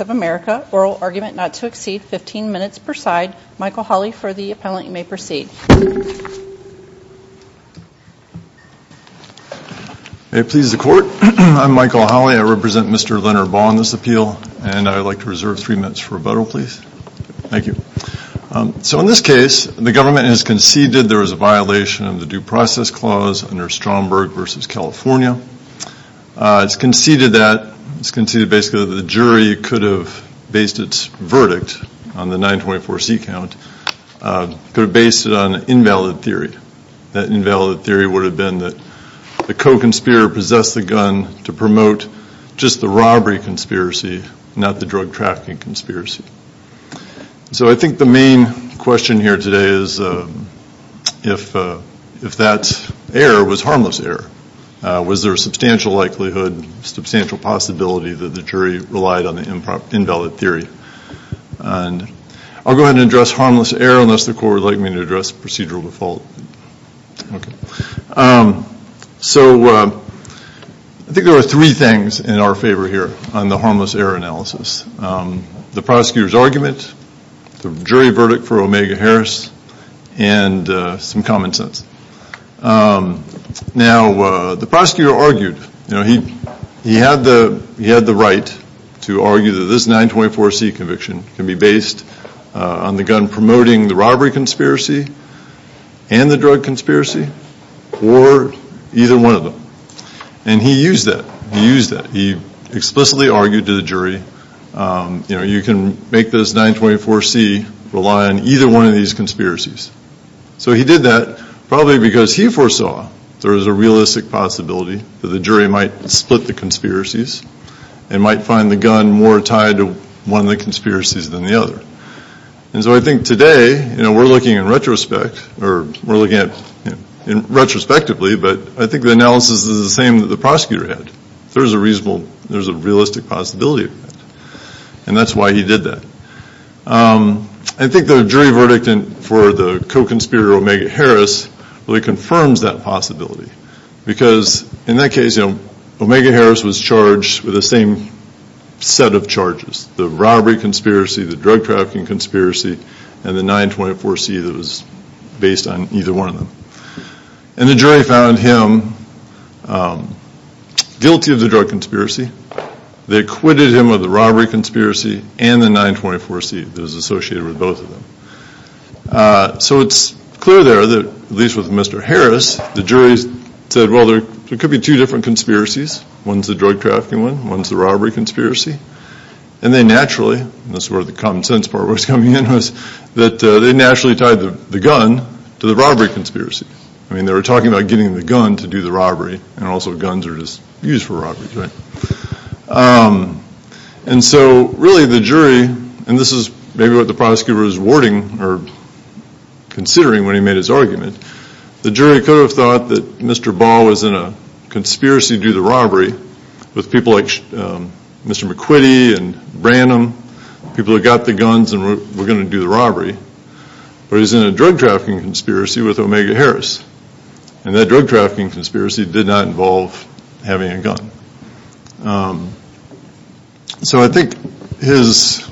of America. Oral argument not to exceed 15 minutes per side. Michael Hawley for the appellant. You may proceed. May it please the court. I'm Michael Hawley. I represent Mr. Leonard Baugh on this appeal and I would like to reserve three minutes for rebuttal please. Thank you. So in this case the government has conceded there was a violation of the due process clause under Stromberg versus California. It's conceded that, it's conceded basically that the jury could have based its verdict on the 924c count, could have based it on an invalid theory. That invalid theory would have been that the co-conspirator possessed the gun to promote just the robbery conspiracy not the drug trafficking conspiracy. So I think the main question here today is if that error was harmless error. Was there a substantial likelihood, substantial possibility that the jury relied on the invalid theory. I'll go ahead and address harmless error unless the court would like me to address procedural default. So I think there are three things in our favor here on the harmless error analysis. The prosecutor's argument, the jury verdict for Omega Harris, and some common sense. Now the prosecutor argued, he had the right to argue that this 924c conviction can be based on the gun promoting the robbery conspiracy and the drug conspiracy or either one of them. And he used that, he used that. He explicitly argued to the jury you can make this 924c rely on either one of these conspiracies. So he did that probably because he foresaw there was a realistic possibility that the jury might split the conspiracies and might find the gun more tied to one of the conspiracies than the other. And so I think today, you know, we're looking in retrospect or we're looking at it retrospectively, but I think the analysis is the same that the prosecutor had. There's a reasonable, there's a realistic possibility of that. I think the jury verdict for the co-conspirator Omega Harris really confirms that possibility because in that case, you know, Omega Harris was charged with the same set of charges. The robbery conspiracy, the drug trafficking conspiracy, and the 924c that was based on either one of them. And the jury found him guilty of the drug conspiracy. They acquitted him of the robbery conspiracy and the 924c that was associated with both of them. So it's clear there that, at least with Mr. Harris, the jury said well there could be two different conspiracies. One's the drug trafficking one, one's the robbery conspiracy. And they naturally, and this is where the common sense part was coming in, was that they naturally tied the gun to the robbery conspiracy. I mean they were talking about getting the gun to do the robbery and also guns are just used for robberies, right? And so really the jury, and this is maybe what the prosecutor was warding or considering when he made his argument, the jury could have thought that Mr. Ball was in a conspiracy to do the robbery with people like Mr. McQuitty and Branham, people who got the guns and were going to do the robbery. But he's in a drug trafficking conspiracy with Omega Harris. And that drug trafficking conspiracy did not involve having a gun. So I think it's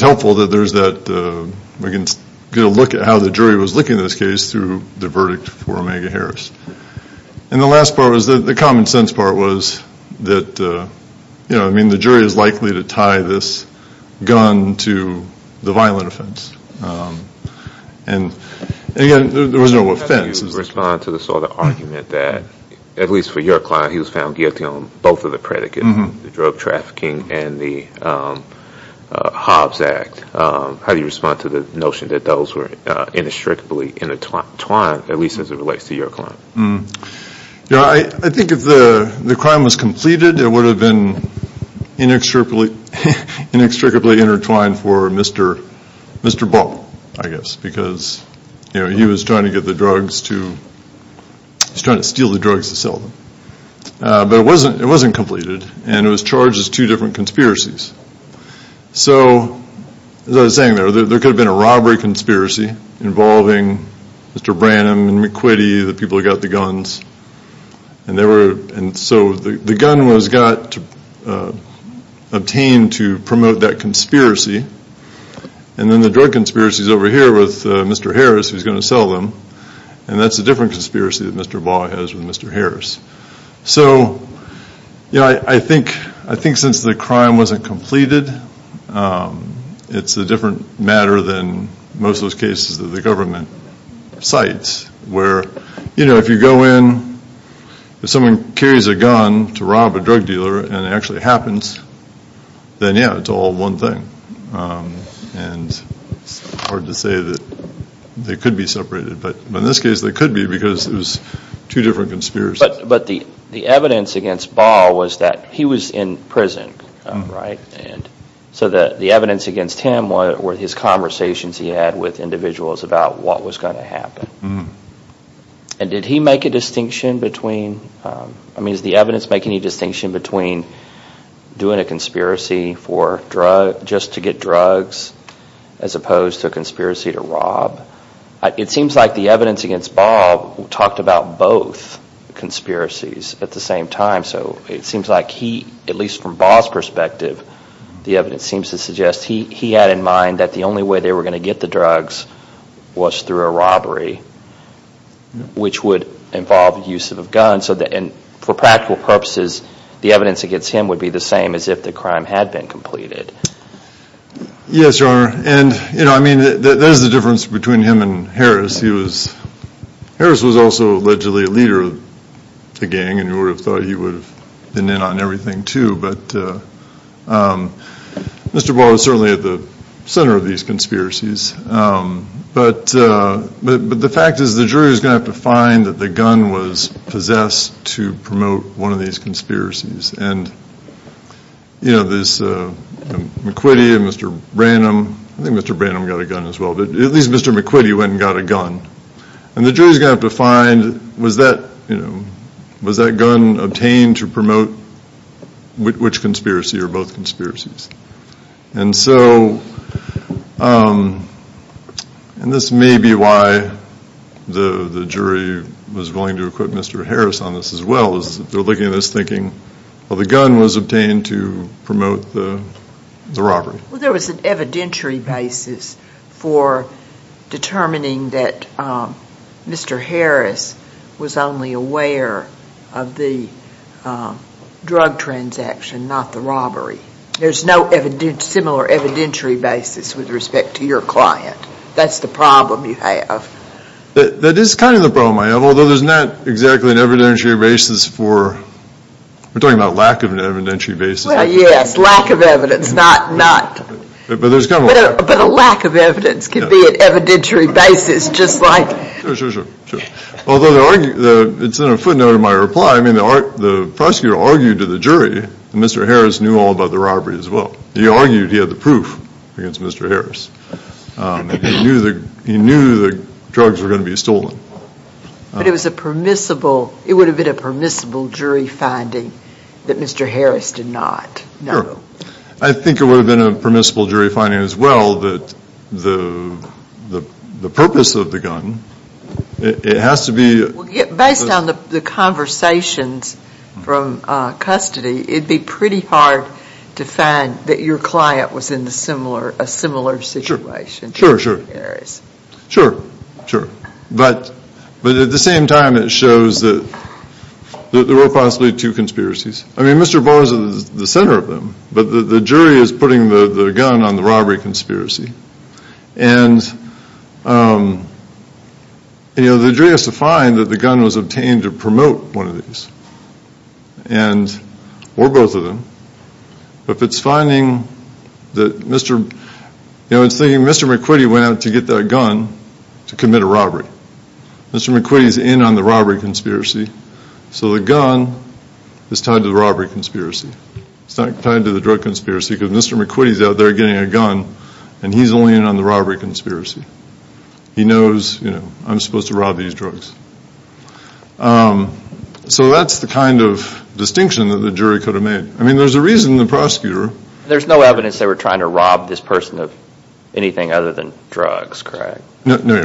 helpful that there's that, we can get a look at how the jury was looking at this case through the verdict for Omega Harris. And the last part was, the common sense part was that, I mean the jury is likely to tie this gun to the violent offense. And again, there was no offense. How do you respond to the sort of argument that, at least for your client, he was found guilty on both of the predicates, the drug trafficking and the Hobbs Act. How do you respond to the notion that those were inextricably intertwined, at least as it relates to your client? I think if the crime was completed it would have been inextricably intertwined for Mr. Ball, I guess, because he was trying to get the drugs to, he was trying to steal the drugs to sell them. But it wasn't completed and it was charged as two different conspiracies. So as I was saying there, there could have been a robbery conspiracy involving Mr. Branham and McQuitty, the people who got the guns, and Mr. Ball. And so the gun was obtained to promote that conspiracy. And then the drug conspiracy is over here with Mr. Harris, who is going to sell them. And that's a different conspiracy that Mr. Ball has with Mr. Harris. So, you know, I think since the crime wasn't completed, it's a different matter than most of those cases that the government cites. Where, you know, if you go in, if someone carries a gun to rob a drug dealer and it actually happens, then yeah, it's all one thing. And it's hard to say that they could be separated. But in this case they could be because it was two different conspiracies. But the evidence against Ball was that he was in prison, right? So the evidence against him were his conversations he had with individuals about what was going to happen. And did he make a distinction between, I mean, does the evidence make any distinction between doing a conspiracy just to get drugs as opposed to a conspiracy to rob? It seems like the evidence against Ball talked about both conspiracies at the same time. So it seems like he, at least from Ball's perspective, the evidence seems to suggest he had in mind that the only way they were going to get the drugs was through a robbery, which would involve the use of a gun. And for practical purposes, the evidence against him would be the same as if the crime had been completed. Yes, Your Honor. And, you know, I mean, there's a difference between him and Harris. He was, Harris was also allegedly a leader of the gang and you would have thought he would have been in on everything too. But Mr. Ball was certainly at the center of these conspiracies. But the fact is the jury is going to have to find that the gun was possessed to promote one of these conspiracies. And, you know, there's McQuitty and Mr. Branham. I think Mr. Branham got a gun as well, but at least Mr. McQuitty went and got a gun. And the jury is going to have to find, was that, you know, was that gun obtained to promote which conspiracy or both conspiracies? And so, and this may be why the jury was willing to equip Mr. Harris on this as well, is that they're looking at this thinking, well, the gun was obtained to promote the robbery. Well, there was an evidentiary basis for determining that Mr. Harris was only aware of the drug transaction, not the robbery. There's no similar evidentiary basis with respect to your client. That's the problem you have. That is kind of the problem I have, although there's not exactly an evidentiary basis for, we're talking about lack of an evidentiary basis. Well, yes, lack of evidence, not, not. But a lack of evidence can be an evidentiary basis just like. Although it's in a footnote of my reply, I mean, the prosecutor argued to the jury that Mr. Harris knew all about the robbery as well. He argued he had the proof against Mr. Harris. He knew the drugs were going to be stolen. But it was a permissible, it would have been a permissible jury finding that Mr. Harris did not know. I think it would have been a permissible jury finding as well that the purpose of the gun, it has to be. Based on the conversations from custody, it'd be pretty hard to find that your client was in a similar situation to Mr. Harris. Sure, sure. But at the same time, it shows that there were possibly two conspiracies. I mean, Mr. Barr is at the center of them, but the jury is putting the gun on the robbery conspiracy. And, you know, the jury has to find that the gun was obtained to promote one of these. Or both of them. But if it's finding that Mr., you know, it's thinking Mr. McQuitty went out to get that gun to commit a robbery. Mr. McQuitty's in on the robbery conspiracy, so the gun is tied to the robbery conspiracy. It's not tied to the drug conspiracy because Mr. McQuitty's out there getting a gun and he's only in on the robbery conspiracy. He knows, you know, I'm supposed to rob these drugs. So that's the kind of distinction that the jury could have made. I mean, there's a reason the prosecutor. There's no evidence they were trying to rob this person of anything other than drugs, correct? No, no.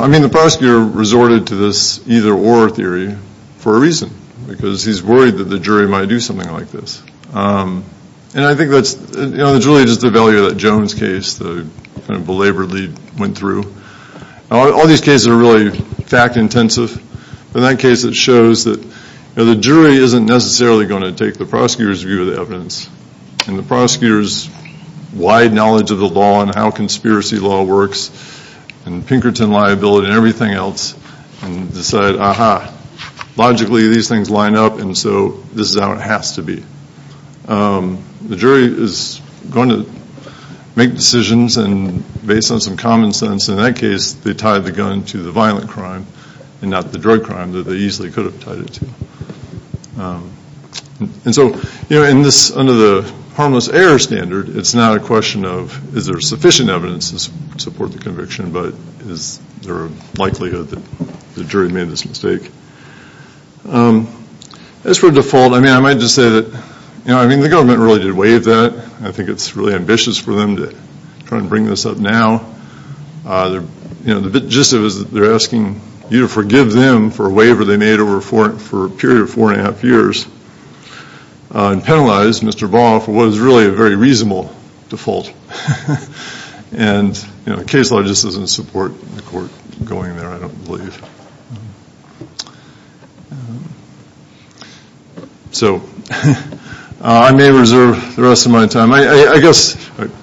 I mean, the prosecutor resorted to this either-or theory for a reason, because he's worried that the jury might do something like this. And I think that's, you know, it's really just the value of that Jones case, the kind of belaboredly went through. All these cases are really fact intensive. In that case, it shows that the jury isn't necessarily going to take the prosecutor's view of the evidence. And the prosecutor's wide knowledge of the law and how conspiracy law works and Pinkerton liability and everything else, and decide, aha, logically these things line up and so this is how it has to be. The jury is going to make decisions and based on some common sense, in that case, they tied the gun to the violent crime and not the drug crime that they easily could have tied it to. And so, you know, in this, under the harmless error standard, it's not a question of is there sufficient evidence to support the conviction, but is there a likelihood that the jury made this mistake? As for default, I mean, I might just say that, you know, I mean, the government really did waive that. I think it's really ambitious for them to try and bring this up now. You know, the gist of it is that they're asking you to forgive them for a waiver they made over a period of four and a half years and penalize Mr. Vaughn for what is really a very reasonable default. And, you know, case law just doesn't support the court going there, I don't believe. So I may reserve the rest of my time. I guess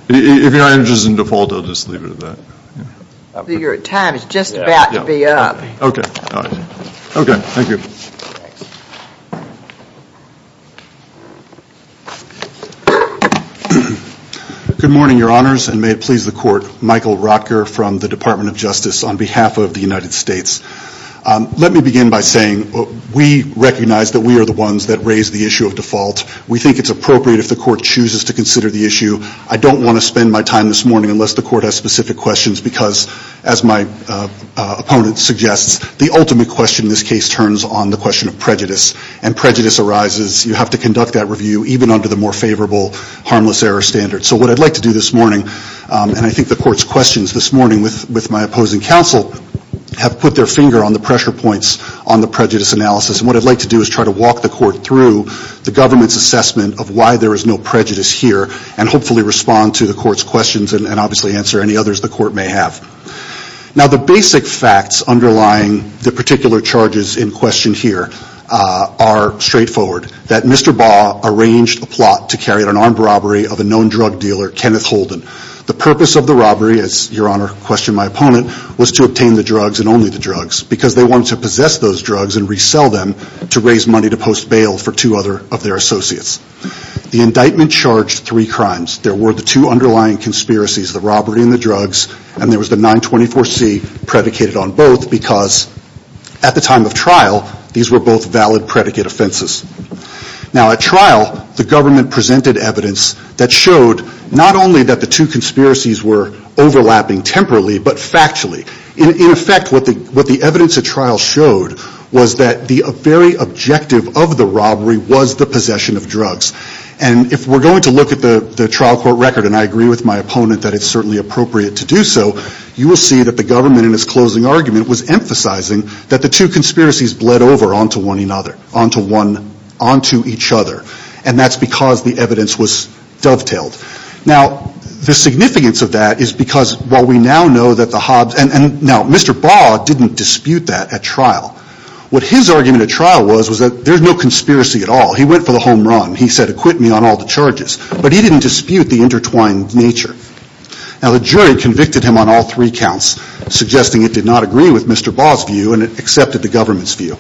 if your time is in default, I'll just leave it at that. Your time is just about to be up. Okay. Okay. Thank you. Good morning, Your Honors, and may it please the court, Michael Rotker from the Department of Justice on behalf of the United States. Let me begin by saying we recognize that we are the ones that raise the issue of default. We think it's appropriate if the court chooses to consider the issue. I don't want to spend my time this morning unless the court has specific questions, because as my opponent suggests, the ultimate question in this case turns on the question of prejudice, and prejudice arises. You have to conduct that review even under the more favorable harmless error standard. So what I'd like to do this morning, and I think the court's questions this morning with my opposing counsel, have put their finger on the pressure points on the prejudice analysis, and what I'd like to do is try to walk the court through the government's assessment of why there is no prejudice here and hopefully respond to the court's questions and obviously answer any others the court may have. Now, the basic facts underlying the particular charges in question here are straightforward, that Mr. Baugh arranged a plot to carry out an armed robbery of a known drug dealer, Kenneth Holden. The purpose of the robbery, as Your Honor questioned my opponent, was to obtain the drugs and only the drugs, because they wanted to possess those drugs and resell them to raise money to post bail for two other of their associates. The indictment charged three crimes. There were the two underlying conspiracies, the robbery and the drugs, and there was the 924C predicated on both, because at the time of trial, these were both valid predicate offenses. Now, at trial, the government presented evidence that showed not only that the two conspiracies were overlapping temporarily, but factually. In effect, what the evidence at trial showed was that the very objective of the robbery was the possession of drugs. And if we're going to look at the trial court record, and I agree with my opponent that it's certainly appropriate to do so, you will see that the government in its closing argument was emphasizing that the two conspiracies bled over onto one another, onto each other, and that's because the evidence was dovetailed. Now, the significance of that is because while we now know that the Hobbs, and now, Mr. Baugh didn't dispute that at trial. What his argument at trial was was that there's no conspiracy at all. He went for the home run. He said, acquit me on all the charges, but he didn't dispute the intertwined nature. Now, the jury convicted him on all three counts, suggesting it did not agree with Mr. Baugh's view and it accepted the government's view.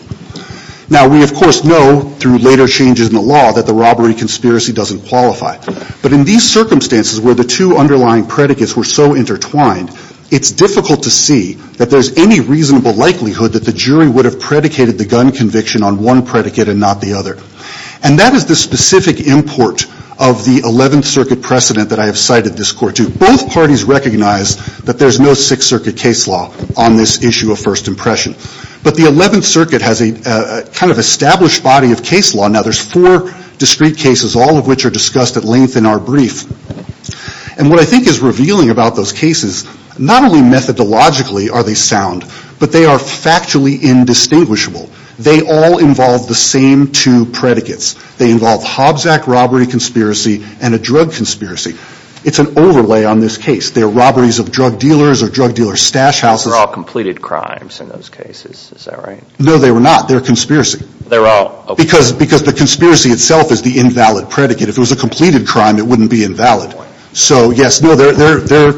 Now, we, of course, know through later changes in the law that the robbery conspiracy doesn't qualify, but in these circumstances where the two underlying predicates were so intertwined, it's difficult to see that there's any reasonable likelihood that the jury would have predicated the gun conviction on one predicate and not the other, and that is the specific import of the 11th Circuit precedent that I have cited this court to. Both parties recognize that there's no Sixth Circuit case law on this issue of first impression, but the 11th Circuit has a kind of established body of case law. Now, there's four discrete cases, all of which are discussed at length in our brief, and what I think is revealing about those cases, not only methodologically are they sound, but they are factually indistinguishable. They all involve the same two predicates. They involve Hobbs Act robbery conspiracy and a drug conspiracy. It's an overlay on this case. They're robberies of drug dealers or drug dealer stash houses. They're all completed crimes in those cases. Is that right? No, they were not. They're conspiracy. They're all. Because the conspiracy itself is the invalid predicate. If it was a completed crime, it wouldn't be invalid. So, yes, they're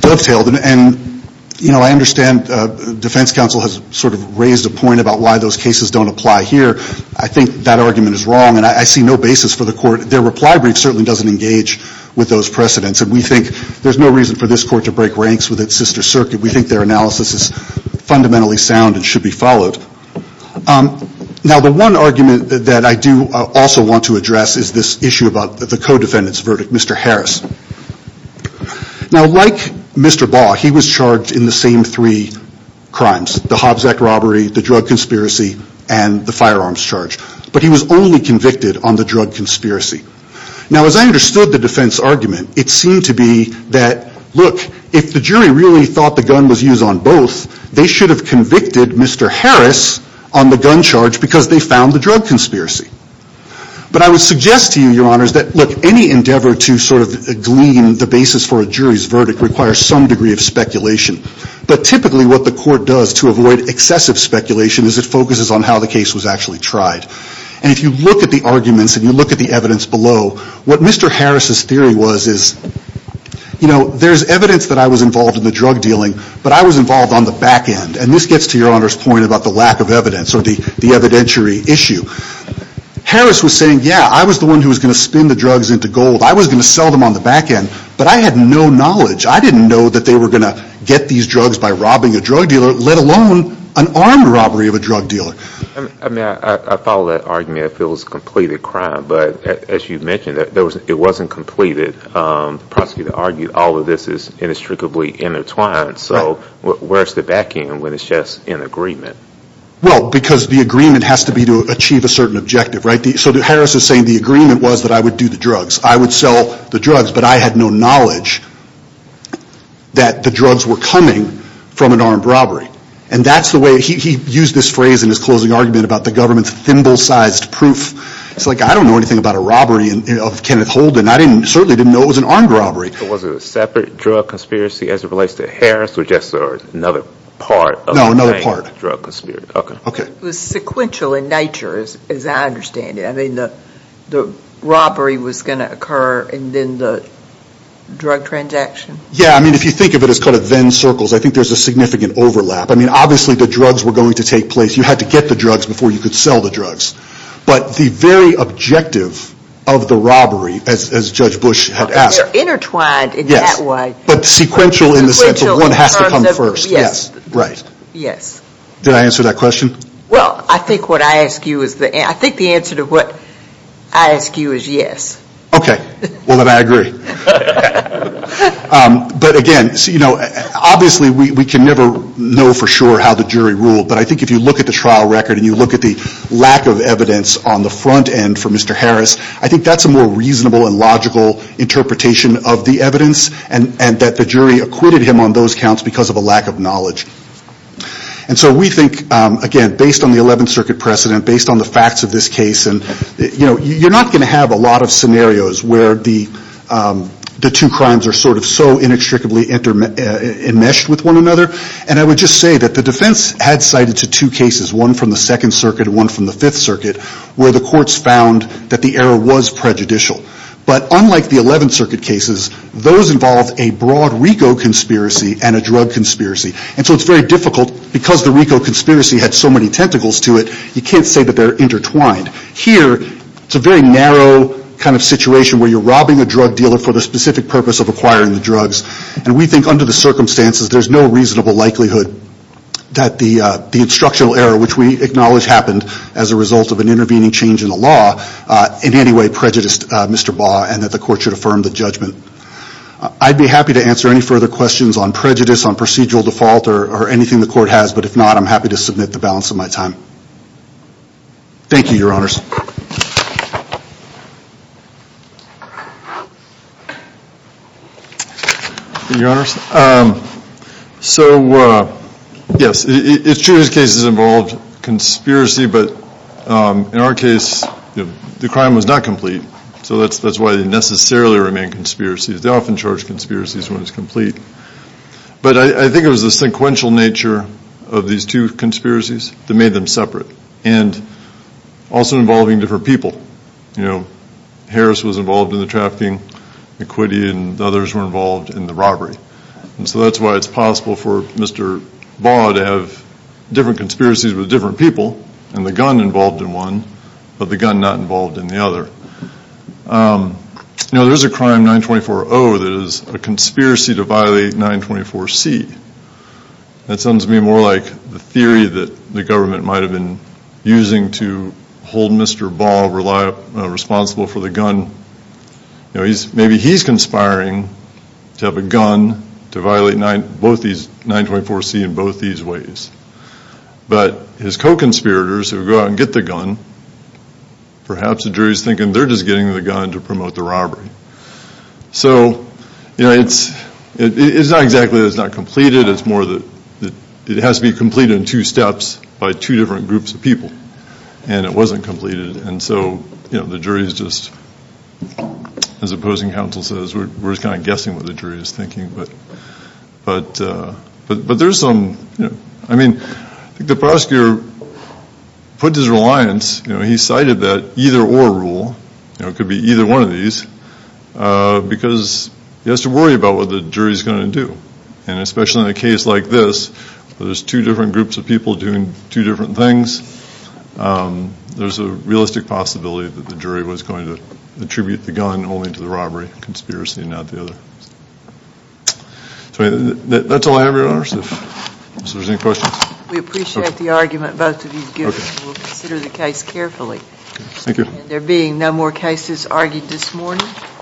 dovetailed, and I understand defense counsel has sort of raised a point about why those cases don't apply here. I think that argument is wrong, and I see no basis for the court. Their reply brief certainly doesn't engage with those precedents, and we think there's no reason for this court to break ranks with its sister circuit. We think their analysis is fundamentally sound and should be followed. Now, the one argument that I do also want to address is this issue about the co-defendant's verdict, Mr. Harris. Now, like Mr. Baugh, he was charged in the same three crimes, the Hobbs Act robbery, the drug conspiracy, and the firearms charge, but he was only convicted on the drug conspiracy. Now, as I understood the defense argument, it seemed to be that, look, if the jury really thought the gun was used on both, they should have convicted Mr. Harris on the gun charge because they found the drug conspiracy. But I would suggest to you, Your Honors, that, look, any endeavor to sort of glean the basis for a jury's verdict requires some degree of speculation, but typically what the court does to avoid excessive speculation is it focuses on how the case was actually tried. And if you look at the arguments and you look at the evidence below, what Mr. Harris' theory was is, you know, there's evidence that I was involved in the drug dealing, but I was involved on the back end, and this gets to Your Honor's point about the lack of evidence or the evidentiary issue. Harris was saying, yeah, I was the one who was going to spin the drugs into gold. I was going to sell them on the back end, but I had no knowledge. I didn't know that they were going to get these drugs by robbing a drug dealer, let alone an armed robbery of a drug dealer. I mean, I follow that argument. I feel it was a completed crime. But as you mentioned, it wasn't completed. The prosecutor argued all of this is inextricably intertwined. So where's the back end when it's just an agreement? Well, because the agreement has to be to achieve a certain objective, right? So Harris is saying the agreement was that I would do the drugs. I would sell the drugs, but I had no knowledge that the drugs were coming from an armed robbery. And that's the way he used this phrase in his closing argument about the government's thimble-sized proof. It's like, I don't know anything about a robbery of Kenneth Holden. I certainly didn't know it was an armed robbery. Was it a separate drug conspiracy as it relates to Harris, or just another part of the same drug conspiracy? No, another part. It was sequential in nature, as I understand it. I mean, the robbery was going to occur, and then the drug transaction? Yeah, I mean, if you think of it as kind of Venn circles, I think there's a significant overlap. I mean, obviously the drugs were going to take place. You had to get the drugs before you could sell the drugs. But the very objective of the robbery, as Judge Bush had asked. Intertwined in that way. Yes, but sequential in the sense that one has to come first. Did I answer that question? Well, I think the answer to what I ask you is yes. Okay, well then I agree. But again, obviously we can never know for sure how the jury ruled, but I think if you look at the trial record, and you look at the lack of evidence on the front end for Mr. Harris, I think that's a more reasonable and logical interpretation of the evidence, and that the jury acquitted him on those counts because of a lack of knowledge. And so we think, again, based on the 11th Circuit precedent, based on the facts of this case, you're not going to have a lot of scenarios where the two crimes are sort of so inextricably enmeshed with one another. And I would just say that the defense had cited two cases, one from the 2nd Circuit and one from the 5th Circuit, where the courts found that the error was prejudicial. But unlike the 11th Circuit cases, those involved a broad RICO conspiracy and a drug conspiracy. And so it's very difficult, because the RICO conspiracy had so many tentacles to it, you can't say that they're intertwined. Here, it's a very narrow kind of situation where you're robbing a drug dealer for the specific purpose of acquiring the drugs, and we think under the circumstances there's no reasonable likelihood that the instructional error, which we acknowledge happened as a result of an intervening change in the law, in any way prejudiced Mr. Baugh and that the court should affirm the judgment. I'd be happy to answer any further questions on prejudice, on procedural default, or anything the court has, but if not, I'm happy to submit the balance of my time. Thank you, Your Honors. Your Honors, so yes, it's true these cases involved conspiracy, but in our case, the crime was not complete, so that's why they necessarily remain conspiracies. They often charge conspiracies when it's complete. But I think it was the sequential nature of these two conspiracies that made them separate, and also involving different people. You know, Harris was involved in the trafficking, McQuitty and others were involved in the robbery. And so that's why it's possible for Mr. Baugh to have different conspiracies with different people, and the gun involved in one, but the gun not involved in the other. You know, there's a crime 924-0 that is a conspiracy to violate 924-C. That sounds to me more like the theory that the government might have been using to hold Mr. Baugh responsible for the gun. You know, maybe he's conspiring to have a gun to violate both these 924-C in both these ways. But his co-conspirators who go out and get the gun, perhaps the jury's thinking they're just getting the gun to promote the robbery. So, you know, it's not exactly that it's not completed. It's more that it has to be completed in two steps by two different groups of people, and it wasn't completed, and so, you know, the jury's just, as opposing counsel says, we're kind of guessing what the jury's thinking. But there's some, you know, I mean, the prosecutor put his reliance, you know, he cited that either or rule, you know, it could be either one of these, because he has to worry about what the jury's going to do. And especially in a case like this, where there's two different groups of people doing two different things, there's a realistic possibility that the jury was going to attribute the gun only to the robbery conspiracy and not the other. That's all I have, Your Honors. If there's any questions. We appreciate the argument both of you have given. We'll consider the case carefully. Thank you.